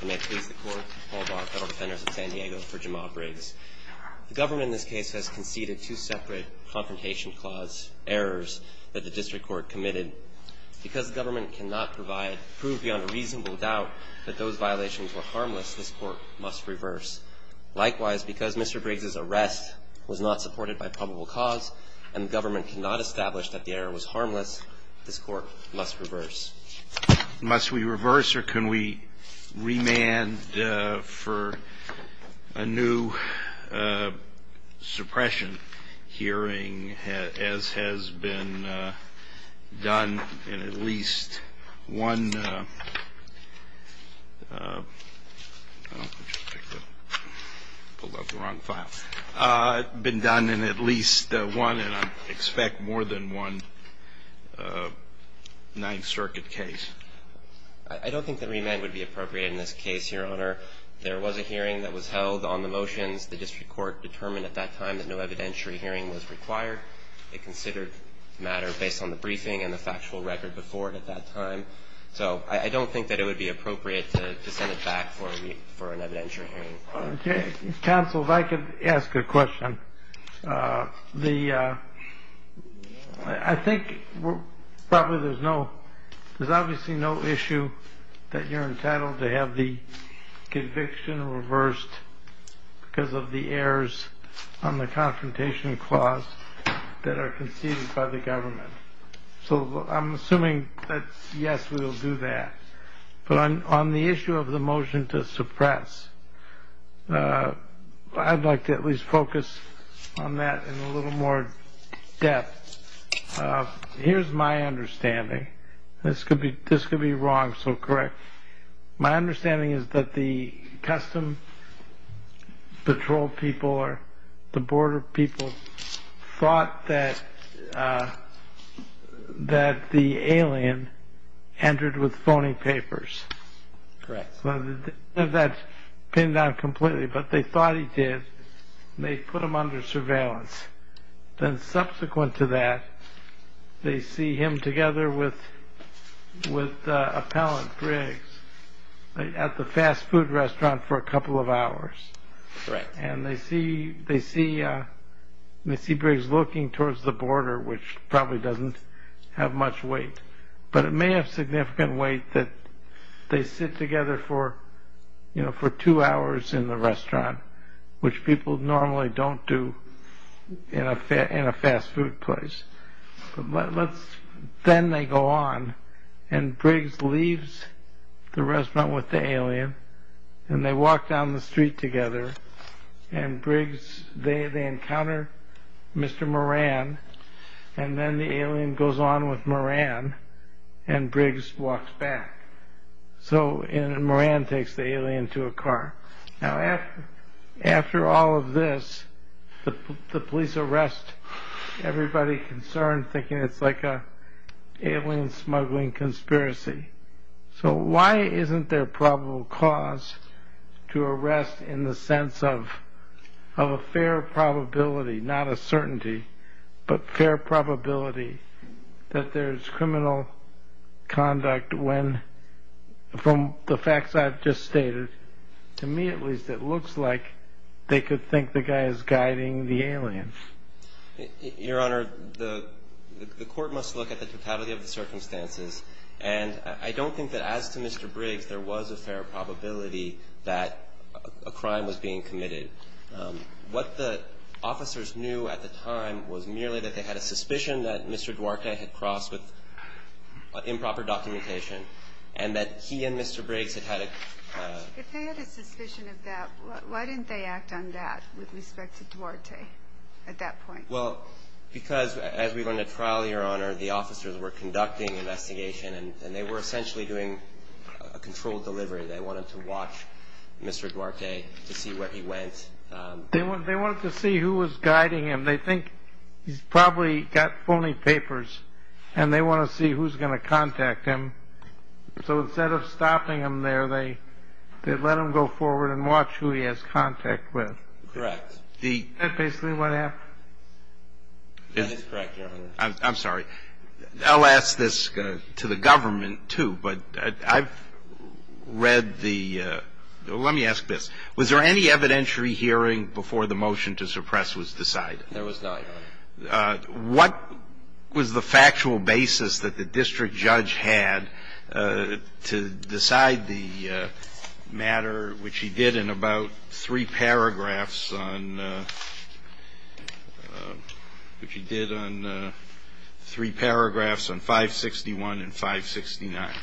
The government in this case has conceded two separate confrontation clause errors that the district court committed because the government cannot provide proof beyond a reasonable doubt that those violations were harmless, this court must reverse. Likewise, because Mr. Briggs's arrest was not supported by probable cause and the government cannot establish that the error was harmless, this court must reverse. Must we reverse or can we remand for a new suppression hearing as has been done in at least one, I pulled out the wrong file, been done in at least one and I expect more than one Ninth Circuit hearing. I don't think that remand would be appropriate in this case, Your Honor. There was a hearing that was held on the motions. The district court determined at that time that no evidentiary hearing was required. It considered matter based on the briefing and the factual record before it at that time. So I don't think that it would be appropriate to send it back for an evidentiary hearing. Counsel, if I could ask a question. I think there's obviously no issue that you're entitled to have the conviction reversed because of the errors on the confrontation clause that are conceded by the government. So I'm assuming that yes, we will do that. But on the issue of the motion to suppress, I'd like to at least focus on that in a little more depth. Here's my understanding. This could be wrong, so correct. My understanding is that the custom patrol people or the border people thought that the alien entered with phony papers. Correct. That pinned down completely, but they thought he did. They put him under surveillance. Then subsequent to that, they see him together with with Appellant Briggs at the fast food restaurant for a couple of hours. They see Briggs looking towards the border, which probably doesn't have much weight, but it may have significant weight that they sit together for two hours in the restaurant, which people normally don't do in a fast food place. Then they go on and Briggs leaves the restaurant with the alien and they walk down the street together and they encounter Mr. Moran and then the alien goes on with Moran and Briggs walks back. Moran takes the alien to a car. After all of this, the police arrest everybody concerned, thinking it's like an alien smuggling conspiracy. So why isn't there probable cause to arrest in the sense of a fair probability, not a certainty, but fair probability that there's criminal conduct when, from the facts I've just stated, to me at least it looks like they could think the guy is guiding the alien. Your Honor, the court must look at the totality of the circumstances and I don't think that as to Mr. Briggs, there was a fair probability that a crime was being committed. What the officers knew at the time was merely that they had a suspicion that Mr. Duarte had crossed with improper documentation and that he and Mr. Briggs had had a... If they had a suspicion of that, why didn't they act on that with respect to Duarte at that point? Well, because as we went to trial, Your Honor, the officers were conducting investigation and they were essentially doing a controlled delivery. They wanted to watch Mr. Duarte to see where he went. They wanted to see who was guiding him. They think he's probably got phony papers and they want to see who's going to contact him. So instead of stopping him there, they let him go forward and watch who he has contact with. Correct. Isn't that basically what happened? That is correct, Your Honor. I'm sorry. I'll ask this to the government, too, but I've read the... Let me ask this. Was there any evidentiary hearing before the motion to suppress was decided? There was none, Your Honor. What was the factual basis that the district judge had to decide the matter, which he did in about three paragraphs on 561 and 569?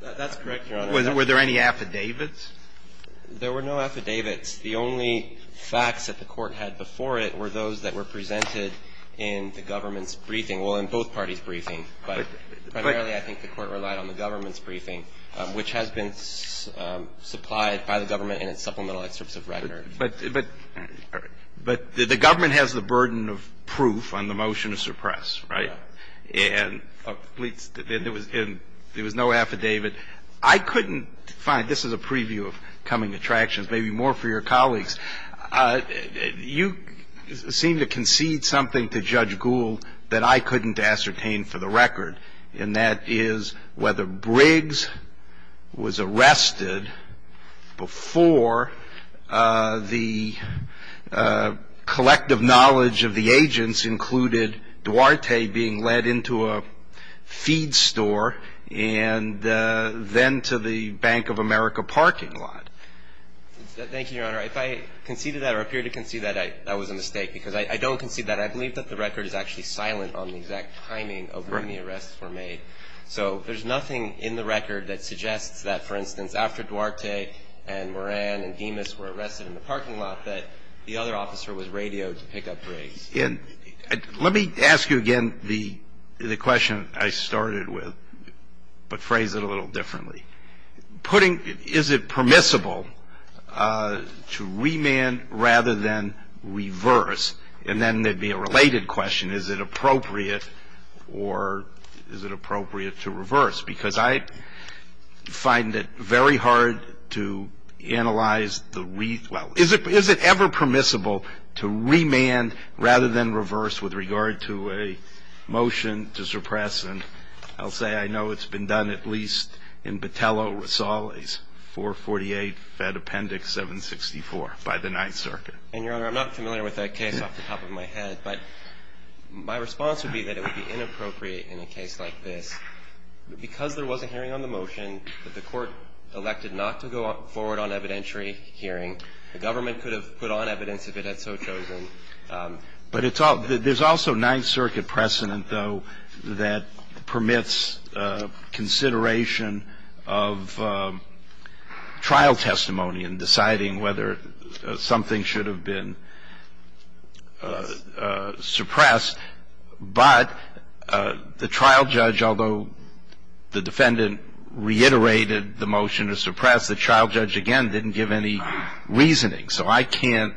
That's correct, Your Honor. Were there any affidavits? There were no affidavits. The only facts that the Court had before it were those that were presented in the government's briefing. Well, in both parties' briefing, but primarily I think the Court relied on the government's briefing, which has been supplied by the government in its supplemental excerpts of record. But the government has the burden of proof on the motion to suppress, right? Yes. And there was no affidavit. I couldn't find, this is a preview of coming attractions, maybe more for your colleagues. You seem to concede something to Judge Gould that I couldn't ascertain for the record, and that is whether Briggs was arrested before the collective knowledge of the agents included Duarte being led into a feed store and then to the Bank of America parking lot. Thank you, Your Honor. If I conceded that or appeared to concede that, that was a mistake, because I don't concede that. I believe that the record is actually silent on the exact timing of when the arrests were made. So there's nothing in the record that suggests that, for instance, after Duarte and Moran and Dimas were arrested in the parking lot, that the other officer was radioed to pick up Briggs. And let me ask you again the question I started with, but phrase it a little differently. Putting, is it permissible to remand rather than reverse? And then there would be a related question. Is it appropriate or is it appropriate to reverse? Because I find it very hard to analyze the, well, is it ever permissible to remand rather than reverse with regard to a motion to suppress? And I'll say I know it's been done at least in Botello, Rosales, 448 Fed Appendix 764 by the Ninth Circuit. And, Your Honor, I'm not familiar with that case off the top of my head, but my response would be that it would be inappropriate in a case like this. Because there was a hearing on the motion that the Court elected not to go forward on evidentiary hearing, the government could have put on evidence if it had so chosen. But it's all, there's also Ninth Circuit precedent, though, that permits consideration of trial testimony in deciding whether something should have been suppressed. But the trial judge, although the defendant reiterated the motion to suppress, the trial judge, again, didn't give any reasoning. So I can't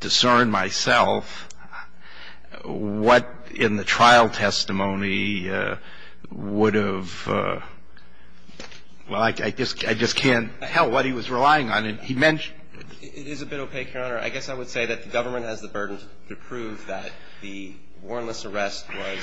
discern myself what in the trial testimony would have, well, I just can't tell what he was relying on. He mentioned it. It is a bit opaque, Your Honor. I guess I would say that the government has the burden to prove that the warrantless arrest was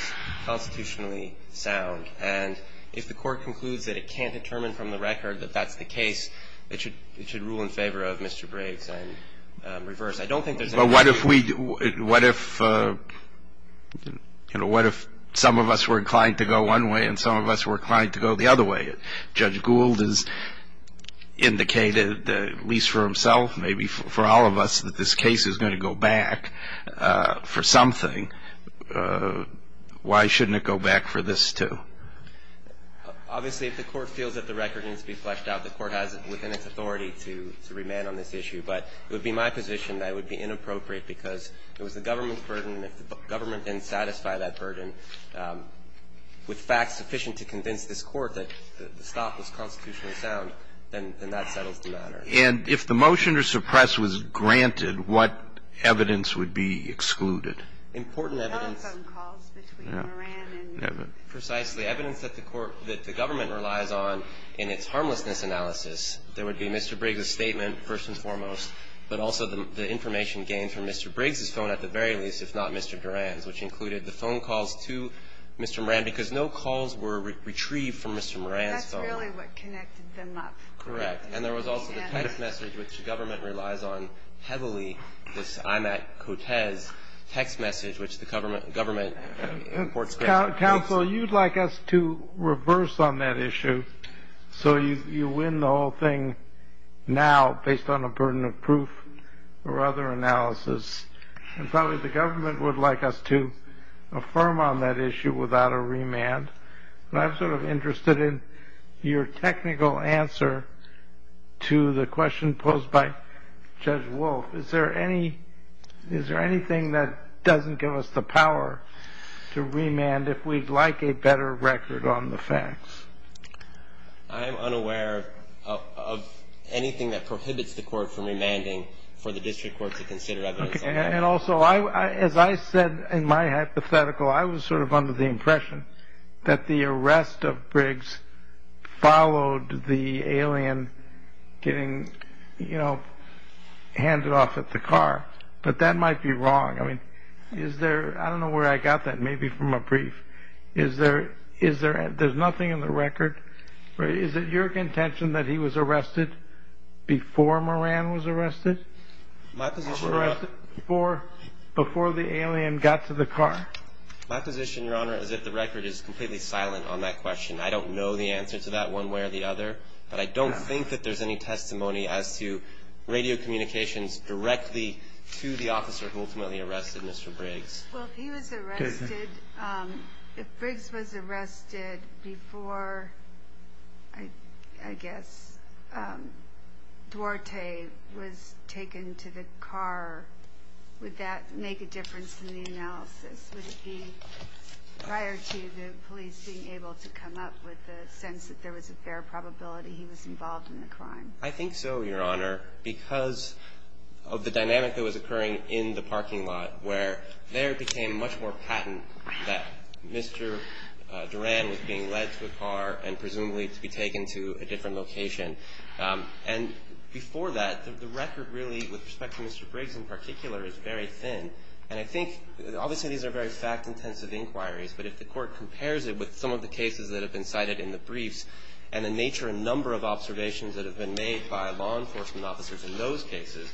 constitutionally sound. And if the Court concludes that it can't determine from the record that that's the case, it should rule in favor of Mr. Braves and reverse. I don't think there's any reason. But what if we, what if, you know, what if some of us were inclined to go one way and some of us were inclined to go the other way? Judge Gould has indicated, at least for himself, maybe for all of us, that this case is going to go back for something. Why shouldn't it go back for this, too? Obviously, if the Court feels that the record needs to be fleshed out, the Court has within its authority to remand on this issue. But it would be my position that it would be inappropriate because it was the government's burden. And if the government didn't satisfy that burden with facts sufficient to convince this Court that the stop was constitutionally sound, then that settles the matter. And if the motion to suppress was granted, what evidence would be excluded? Important evidence. Precisely. Evidence that the Court, that the government relies on in its harmlessness analysis. There would be Mr. Briggs' statement, first and foremost, but also the information gained from Mr. Briggs' phone at the very least, if not Mr. Duran's, which included the phone calls to Mr. Moran because no calls were retrieved from Mr. Moran's phone. That's really what connected them up. Correct. And there was also the text message, which the government relies on heavily, this Imatt-Cotes text message, which the government imports. Counsel, you'd like us to reverse on that issue so you win the whole thing now based on a burden of proof or other analysis. And probably the government would like us to affirm on that issue without a remand. And I'm sort of interested in your technical answer to the question posed by Judge Woolf. Is there anything that doesn't give us the power to remand if we'd like a better record on the facts? I'm unaware of anything that prohibits the Court from remanding for the district court to consider evidence on that. And also, as I said in my hypothetical, I was sort of under the impression that the But that might be wrong. I don't know where I got that, maybe from a brief. There's nothing in the record. Is it your contention that he was arrested before Moran was arrested? Before the alien got to the car. My position, Your Honor, is that the record is completely silent on that question. I don't know the answer to that one way or the other, but I don't think that there's any testimony as to radio communications directly to the officer who ultimately arrested Mr. Briggs. Well, if he was arrested, if Briggs was arrested before, I guess, Duarte was taken to the car, would that make a difference in the analysis? Would it be prior to the police being able to come up with a sense that there was a fair probability he was involved in the crime? I think so, Your Honor, because of the dynamic that was occurring in the parking lot, where there became much more patent that Mr. Duran was being led to a car and presumably to be taken to a different location. And before that, the record really, with respect to Mr. Briggs in particular, is very thin. And I think, obviously, these are very fact-intensive inquiries, but if the Court observations that have been made by law enforcement officers in those cases,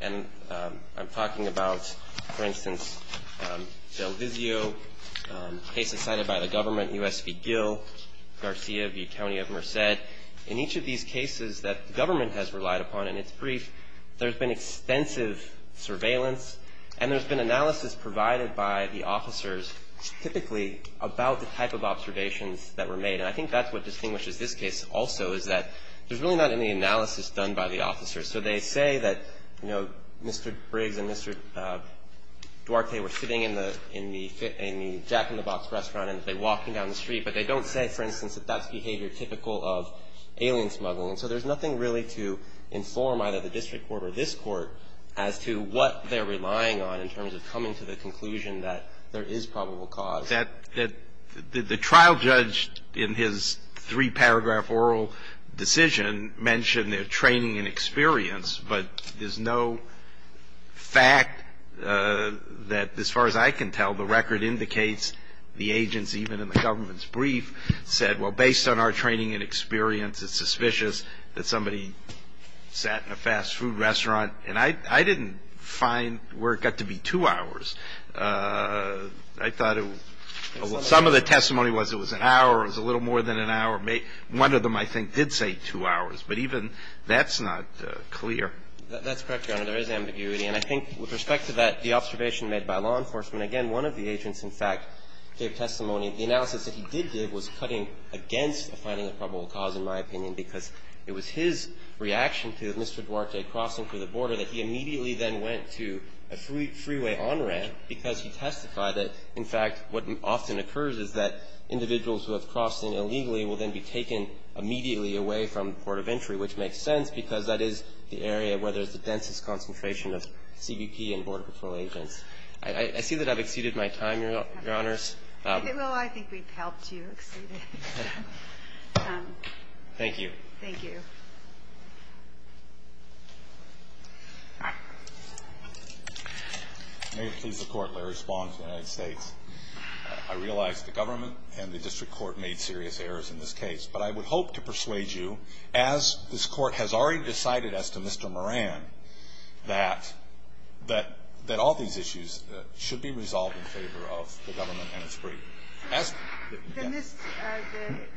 and I'm talking about, for instance, Del Vizio, cases cited by the government, U.S. v. Gill, Garcia v. County of Merced, in each of these cases that government has relied upon in its brief, there's been extensive surveillance and there's been analysis provided by the officers typically about the type of observations that were made. And I think that's what distinguishes this case also, is that there's really not any analysis done by the officers. So they say that, you know, Mr. Briggs and Mr. Duarte were sitting in the jack-in-the-box restaurant and they're walking down the street. But they don't say, for instance, that that's behavior typical of alien smuggling. So there's nothing really to inform either the district court or this court as to what they're relying on in terms of coming to the conclusion that there is probable cause. The trial judge, in his three-paragraph oral decision, mentioned their training and experience, but there's no fact that, as far as I can tell, the record indicates the agents, even in the government's brief, said, well, based on our training and experience, it's suspicious that somebody sat in a fast food restaurant. And I didn't find where it got to be two hours. I thought some of the testimony was it was an hour, it was a little more than an hour. One of them, I think, did say two hours. But even that's not clear. That's correct, Your Honor. There is ambiguity. And I think with respect to that, the observation made by law enforcement, again, one of the agents, in fact, gave testimony. The analysis that he did give was cutting against the finding of probable cause, in my opinion, because it was his reaction to Mr. Duarte crossing through the border that he immediately then went to a freeway on-ramp because he testified that, in fact, what often occurs is that individuals who have crossed in illegally will then be taken immediately away from the port of entry, which makes sense because that is the area where there's the densest concentration of CBP and border patrol agents. I see that I've exceeded my time, Your Honors. Well, I think we've helped you exceed it. Thank you. May it please the Court. Larry Spohn of the United States. I realize the government and the district court made serious errors in this case. But I would hope to persuade you, as this Court has already decided as to Mr. Moran, that all these issues should be resolved in favor of the government and its brief.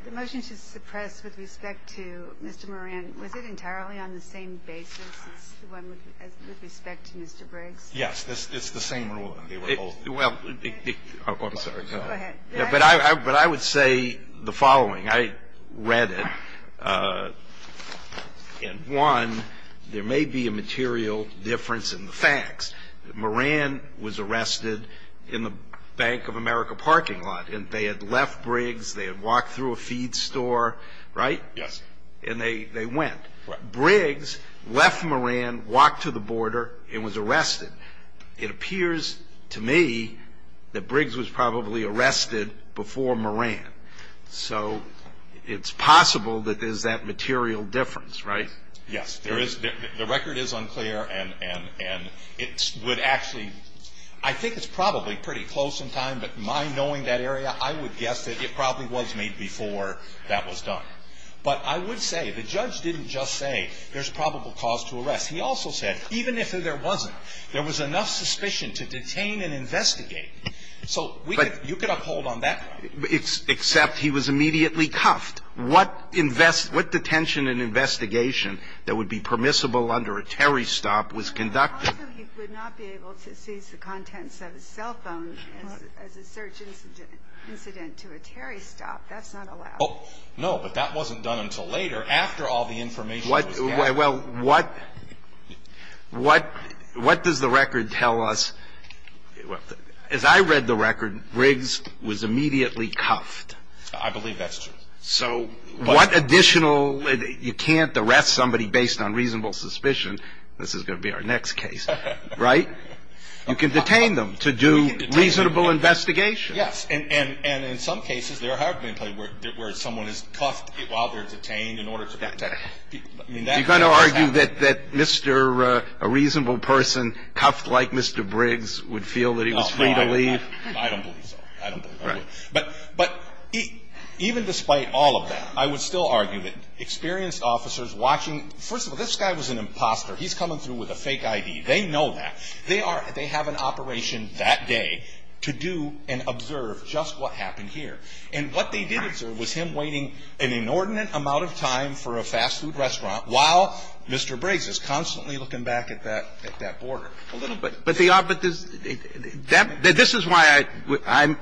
The motion should suppress with respect to Mr. Moran. Was it entirely on the same basis as the one with respect to Mr. Briggs? Yes. It's the same rule. Well, I'm sorry. Go ahead. But I would say the following. I read it. And, one, there may be a material difference in the facts. Moran was arrested in the Bank of America parking lot. And they had left Briggs. They had walked through a feed store. Right? Yes. And they went. Right. Briggs left Moran, walked to the border, and was arrested. It appears to me that Briggs was probably arrested before Moran. So it's possible that there's that material difference, right? Yes. There is. The record is unclear. And it would actually – I think it's probably pretty close in time. But my knowing that area, I would guess that it probably was made before that was done. But I would say the judge didn't just say there's probable cause to arrest. He also said even if there wasn't, there was enough suspicion to detain and investigate. So you could uphold on that. Except he was immediately cuffed. What detention and investigation that would be permissible under a Terry stop was conducted? Also, he would not be able to seize the contents of his cell phone as a search incident to a Terry stop. That's not allowed. No, but that wasn't done until later, after all the information was gathered. Well, what does the record tell us? As I read the record, Briggs was immediately cuffed. I believe that's true. So what additional – you can't arrest somebody based on reasonable suspicion. This is going to be our next case. Right? You can detain them to do reasonable investigation. Yes. And in some cases, there have been cases where someone is cuffed while they're detained in order to protect people. You're going to argue that a reasonable person cuffed like Mr. Briggs would feel that he was free to leave? I don't believe so. I don't think so. But even despite all of that, I would still argue that experienced officers watching – First of all, this guy was an imposter. He's coming through with a fake ID. They know that. They are – they have an operation that day to do and observe just what happened here. And what they did observe was him waiting an inordinate amount of time for a fast food restaurant while Mr. Briggs is constantly looking back at that – at that border a little bit. But the – this is why I'm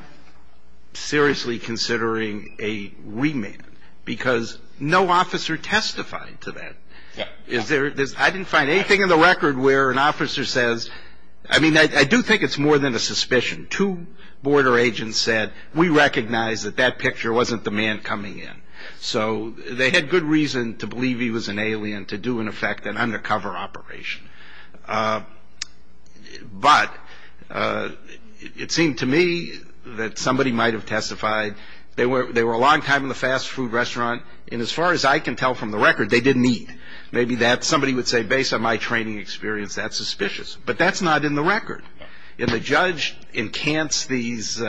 seriously considering a remand, because no officer testified to that. I didn't find anything in the record where an officer says – I mean, I do think it's more than a suspicion. Two border agents said, we recognize that that picture wasn't the man coming in. So they had good reason to believe he was an alien to do, in effect, an undercover operation. But it seemed to me that somebody might have testified. They were a long time in the fast food restaurant. And as far as I can tell from the record, they didn't eat. Maybe that – somebody would say, based on my training experience, that's suspicious. But that's not in the record. And the judge encants these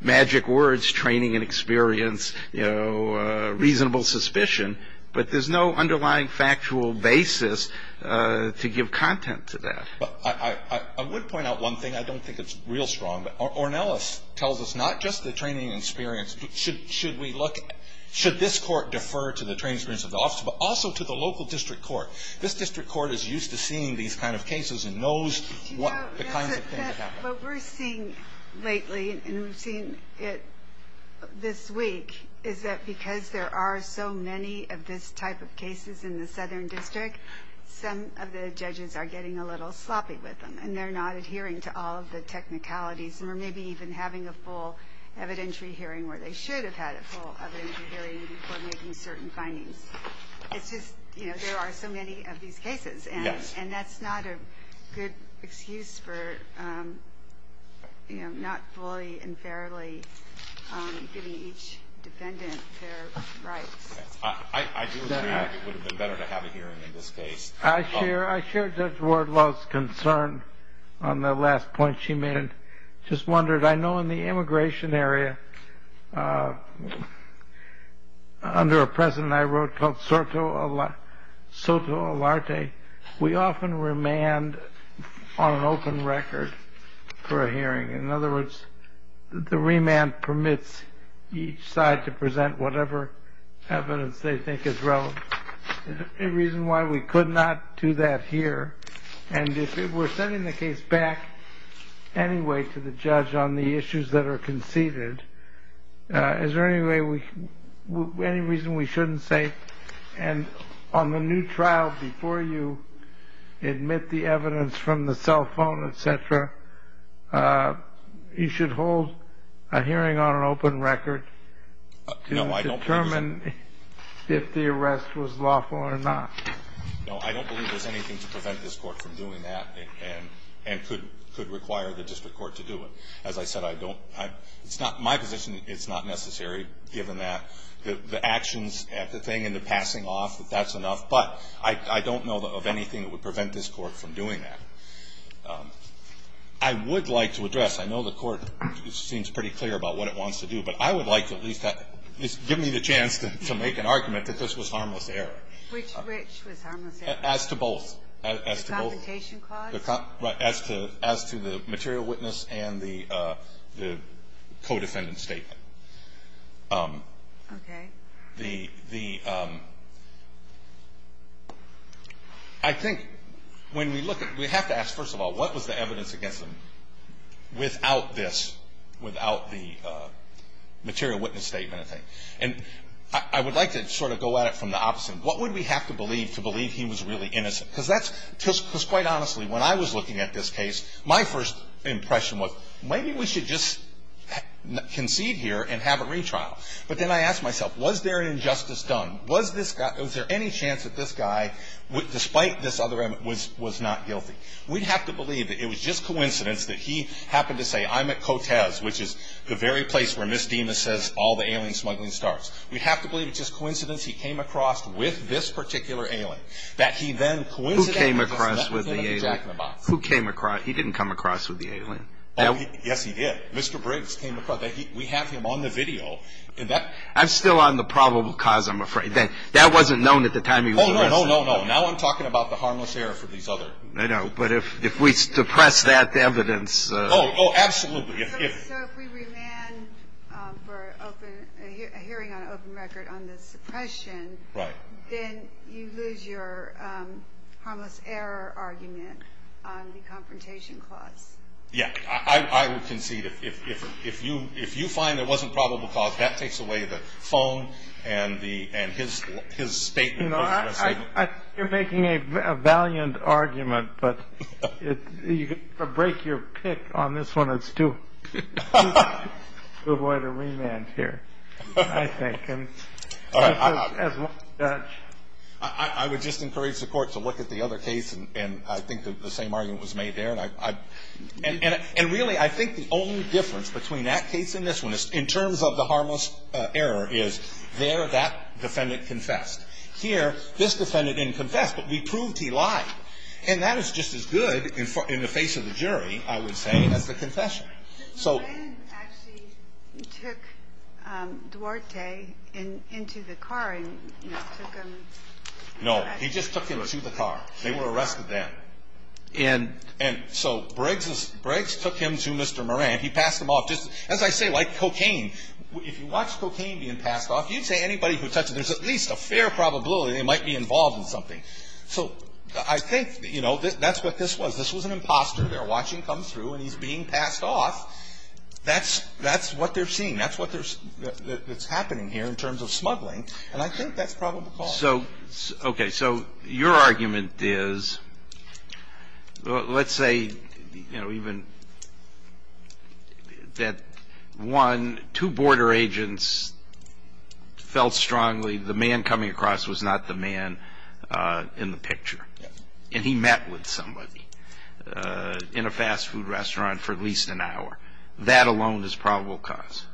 magic words, training and experience, you know, reasonable suspicion. But there's no underlying factual basis to give content to that. I would point out one thing. I don't think it's real strong. Ornelas tells us not just the training and experience. Should we look – should this court defer to the training and experience of the officer, but also to the local district court? This district court is used to seeing these kind of cases and knows the kinds of things that happen. What we're seeing lately, and we've seen it this week, is that because there are so many of this type of cases in the Southern District, some of the judges are getting a little sloppy with them. And they're not adhering to all of the technicalities, or maybe even having a full evidentiary hearing where they should have had a full evidentiary hearing before making certain findings. It's just, you know, there are so many of these cases. And that's not a good excuse for, you know, not fully and fairly giving each defendant their rights. I do agree that it would have been better to have a hearing in this case. I share Judge Wardlow's concern on the last point she made. I just wondered, I know in the immigration area, under a precedent I wrote called soto alarte, we often remand on an open record for a hearing. In other words, the remand permits each side to present whatever evidence they think is relevant. Is there any reason why we could not do that here? And if we're sending the case back anyway to the judge on the issues that are conceded, is there any reason we shouldn't say, and on the new trial before you admit the evidence from the cell phone, et cetera, you should hold a hearing on an open record to determine if the arrest was lawful or not? No, I don't believe there's anything to prevent this Court from doing that and could require the district court to do it. As I said, I don't. It's not my position it's not necessary, given that. The actions at the thing and the passing off, that's enough. But I don't know of anything that would prevent this Court from doing that. I would like to address, I know the Court seems pretty clear about what it wants to do, but I would like to at least give me the chance to make an argument that this was harmless error. Which was harmless error? As to both. The complication clause? As to the material witness and the co-defendant statement. Okay. I think when we look at it, we have to ask, first of all, what was the evidence against him without this, without the material witness statement? And I would like to sort of go at it from the opposite. What would we have to believe to believe he was really innocent? Because quite honestly, when I was looking at this case, my first impression was, maybe we should just concede here and have a retrial. But then I asked myself, was there an injustice done? Was there any chance that this guy, despite this other element, was not guilty? We'd have to believe that it was just coincidence that he happened to say, I'm at Cotez, which is the very place where Ms. Dimas says all the alien smuggling starts. We'd have to believe it's just coincidence he came across with this particular alien. That he then coincidentally met with Jack in the Box. Who came across with the alien? Who came across? He didn't come across with the alien. Yes, he did. Mr. Briggs came across. We have him on the video. I'm still on the probable cause, I'm afraid. That wasn't known at the time he was arrested. No, no, no, no. Now I'm talking about the harmless error for these other. I know, but if we suppress that evidence. Oh, absolutely. So if we remand for a hearing on open record on the suppression, then you lose your harmless error argument on the confrontation clause. Yeah, I would concede if you find there wasn't probable cause, that takes away the phone and his statement. You're making a valiant argument, but you could break your pick on this one. It's too avoid a remand here, I think. I would just encourage the court to look at the other case, and I think the same argument was made there. And really, I think the only difference between that case and this one, in terms of the harmless error, is there that defendant confessed. Here, this defendant didn't confess, but we proved he lied. And that is just as good in the face of the jury, I would say, as the confession. Moran actually took Duarte into the car and took him. No, he just took him to the car. They were arrested then. And so Briggs took him to Mr. Moran. He passed him off just, as I say, like cocaine. If you watch cocaine being passed off, you'd say anybody who touches it, there's at least a fair probability they might be involved in something. So I think, you know, that's what this was. This was an imposter. They're watching him come through, and he's being passed off. That's what they're seeing. That's what's happening here in terms of smuggling, and I think that's probable cause. Okay, so your argument is, let's say, you know, even that, one, two border agents felt strongly the man coming across was not the man in the picture, and he met with somebody in a fast food restaurant for at least an hour. That alone is probable cause.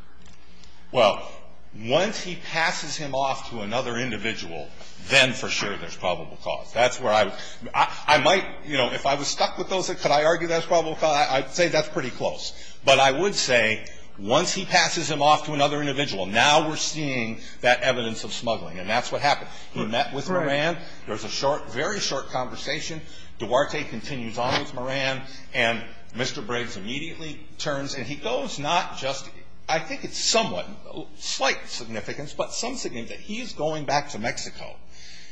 Well, once he passes him off to another individual, then for sure there's probable cause. That's where I would – I might, you know, if I was stuck with those, could I argue that's probable cause, I'd say that's pretty close. But I would say once he passes him off to another individual, now we're seeing that evidence of smuggling, and that's what happened. He met with Moran. There was a short, very short conversation. Duarte continues on with Moran, and Mr. Briggs immediately turns, and he goes not just – I think it's somewhat, slight significance, but some significance that he's going back to Mexico.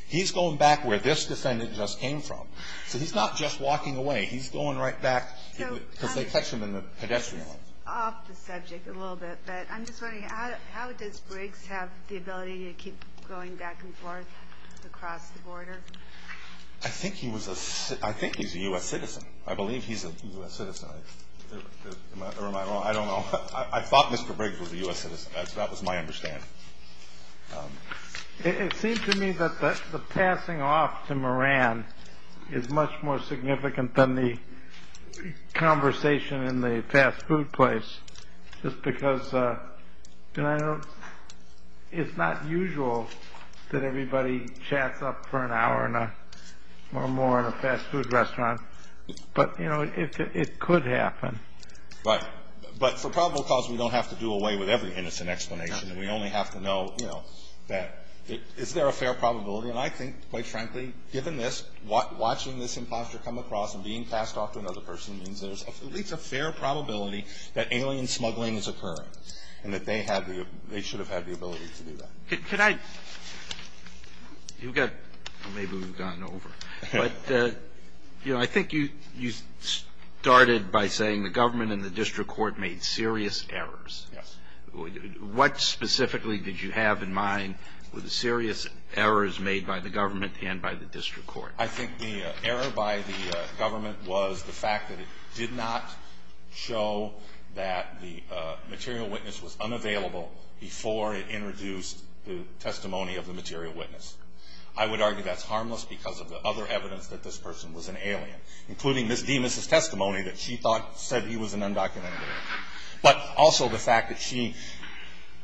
He's going back where this defendant just came from. So he's not just walking away. He's going right back because they catch him in the pedestrian lane. Off the subject a little bit, but I'm just wondering, how does Briggs have the ability to keep going back and forth across the border? I think he was a – I think he's a U.S. citizen. I believe he's a U.S. citizen. Am I – am I wrong? I don't know. I thought Mr. Briggs was a U.S. citizen. That was my understanding. It seems to me that the passing off to Moran is much more significant than the conversation in the fast food place just because – and I don't – it's not usual that everybody chats up for an hour or more in a fast food restaurant. But, you know, it could happen. Right. But for probable cause, we don't have to do away with every innocent explanation. We only have to know, you know, that is there a fair probability? And I think, quite frankly, given this, watching this impostor come across and being passed off to another person means there's at least a fair probability that alien smuggling is occurring and that they had the – they should have had the ability to do that. Can I – you've got – maybe we've gone over. But, you know, I think you started by saying the government and the district court made serious errors. Yes. What specifically did you have in mind were the serious errors made by the government and by the district court? I think the error by the government was the fact that it did not show that the material witness was unavailable before it introduced the testimony of the material witness. I would argue that's harmless because of the other evidence that this person was an alien, including Ms. Demas' testimony that she thought – said he was an undocumented immigrant. But also the fact that she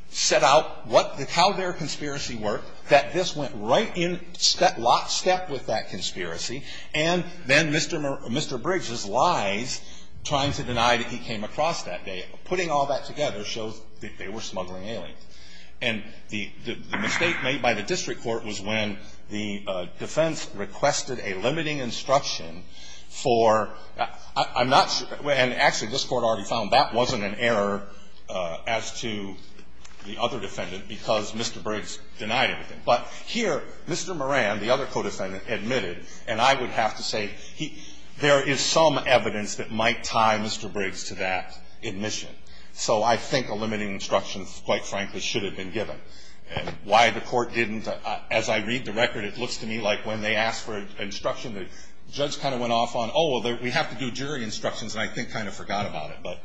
set out what – how their conspiracy worked, that this went right in – last step with that conspiracy, and then Mr. Bridges' lies trying to deny that he came across that day, putting all that together shows that they were smuggling aliens. And the mistake made by the district court was when the defense requested a limiting instruction for – I'm not – and actually, this Court already found that wasn't an error as to the other defendant because Mr. Briggs denied everything. But here, Mr. Moran, the other co-defendant, admitted, and I would have to say he – there is some evidence that might tie Mr. Briggs to that admission. So I think a limiting instruction, quite frankly, should have been given. And why the Court didn't – as I read the record, it looks to me like when they asked for instruction, the judge kind of went off on, oh, well, we have to do jury instructions, and I think kind of forgot about it.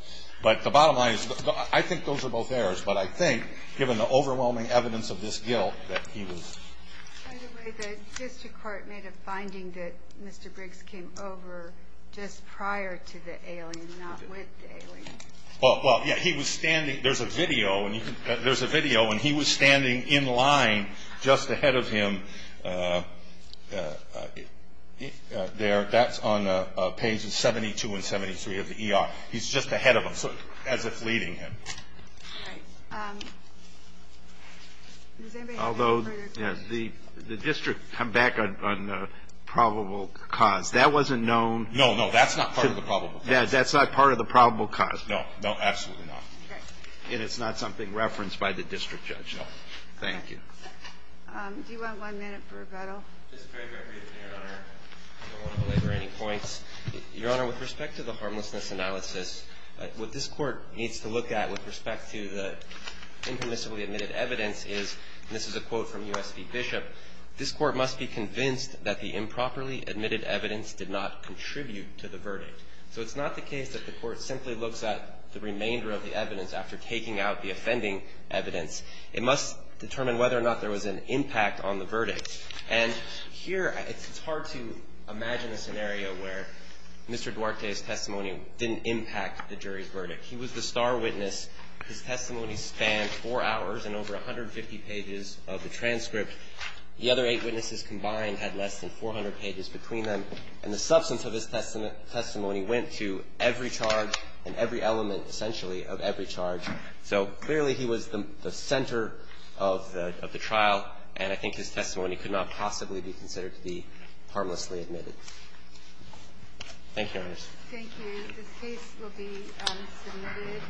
But the bottom line is I think those are both errors. But I think, given the overwhelming evidence of this guilt, that he was – By the way, the district court made a finding that Mr. Briggs came over just prior to the alien, not with the alien. Well, yeah. He was standing – there's a video, and you can – there's a video, and he was standing in line just ahead of him there. That's on pages 72 and 73 of the ER. He's just ahead of him, as if leading him. Right. Does anybody have any further questions? Although, yes, the district come back on probable cause. That wasn't known. No, no. That's not part of the probable cause. No. No, absolutely not. Okay. And it's not something referenced by the district judge. No. Thank you. Do you want one minute for rebuttal? Just a very quick rebuttal, Your Honor. I don't want to belabor any points. Your Honor, with respect to the harmlessness analysis, what this Court needs to look at with respect to the impermissibly admitted evidence is, and this is a quote from U.S. v. Bishop, this Court must be convinced that the improperly admitted evidence did not contribute to the verdict. So it's not the case that the Court simply looks at the remainder of the evidence after taking out the offending evidence. It must determine whether or not there was an impact on the verdict. And here, it's hard to imagine a scenario where Mr. Duarte's testimony didn't impact the jury's verdict. He was the star witness. His testimony spanned four hours and over 150 pages of the transcript. The other eight witnesses combined had less than 400 pages between them. And the substance of his testimony went to every charge and every element, essentially, of every charge. So clearly, he was the center of the trial, and I think his testimony could not possibly be considered to be harmlessly admitted. Thank you, Your Honors. Thank you. This case will be submitted.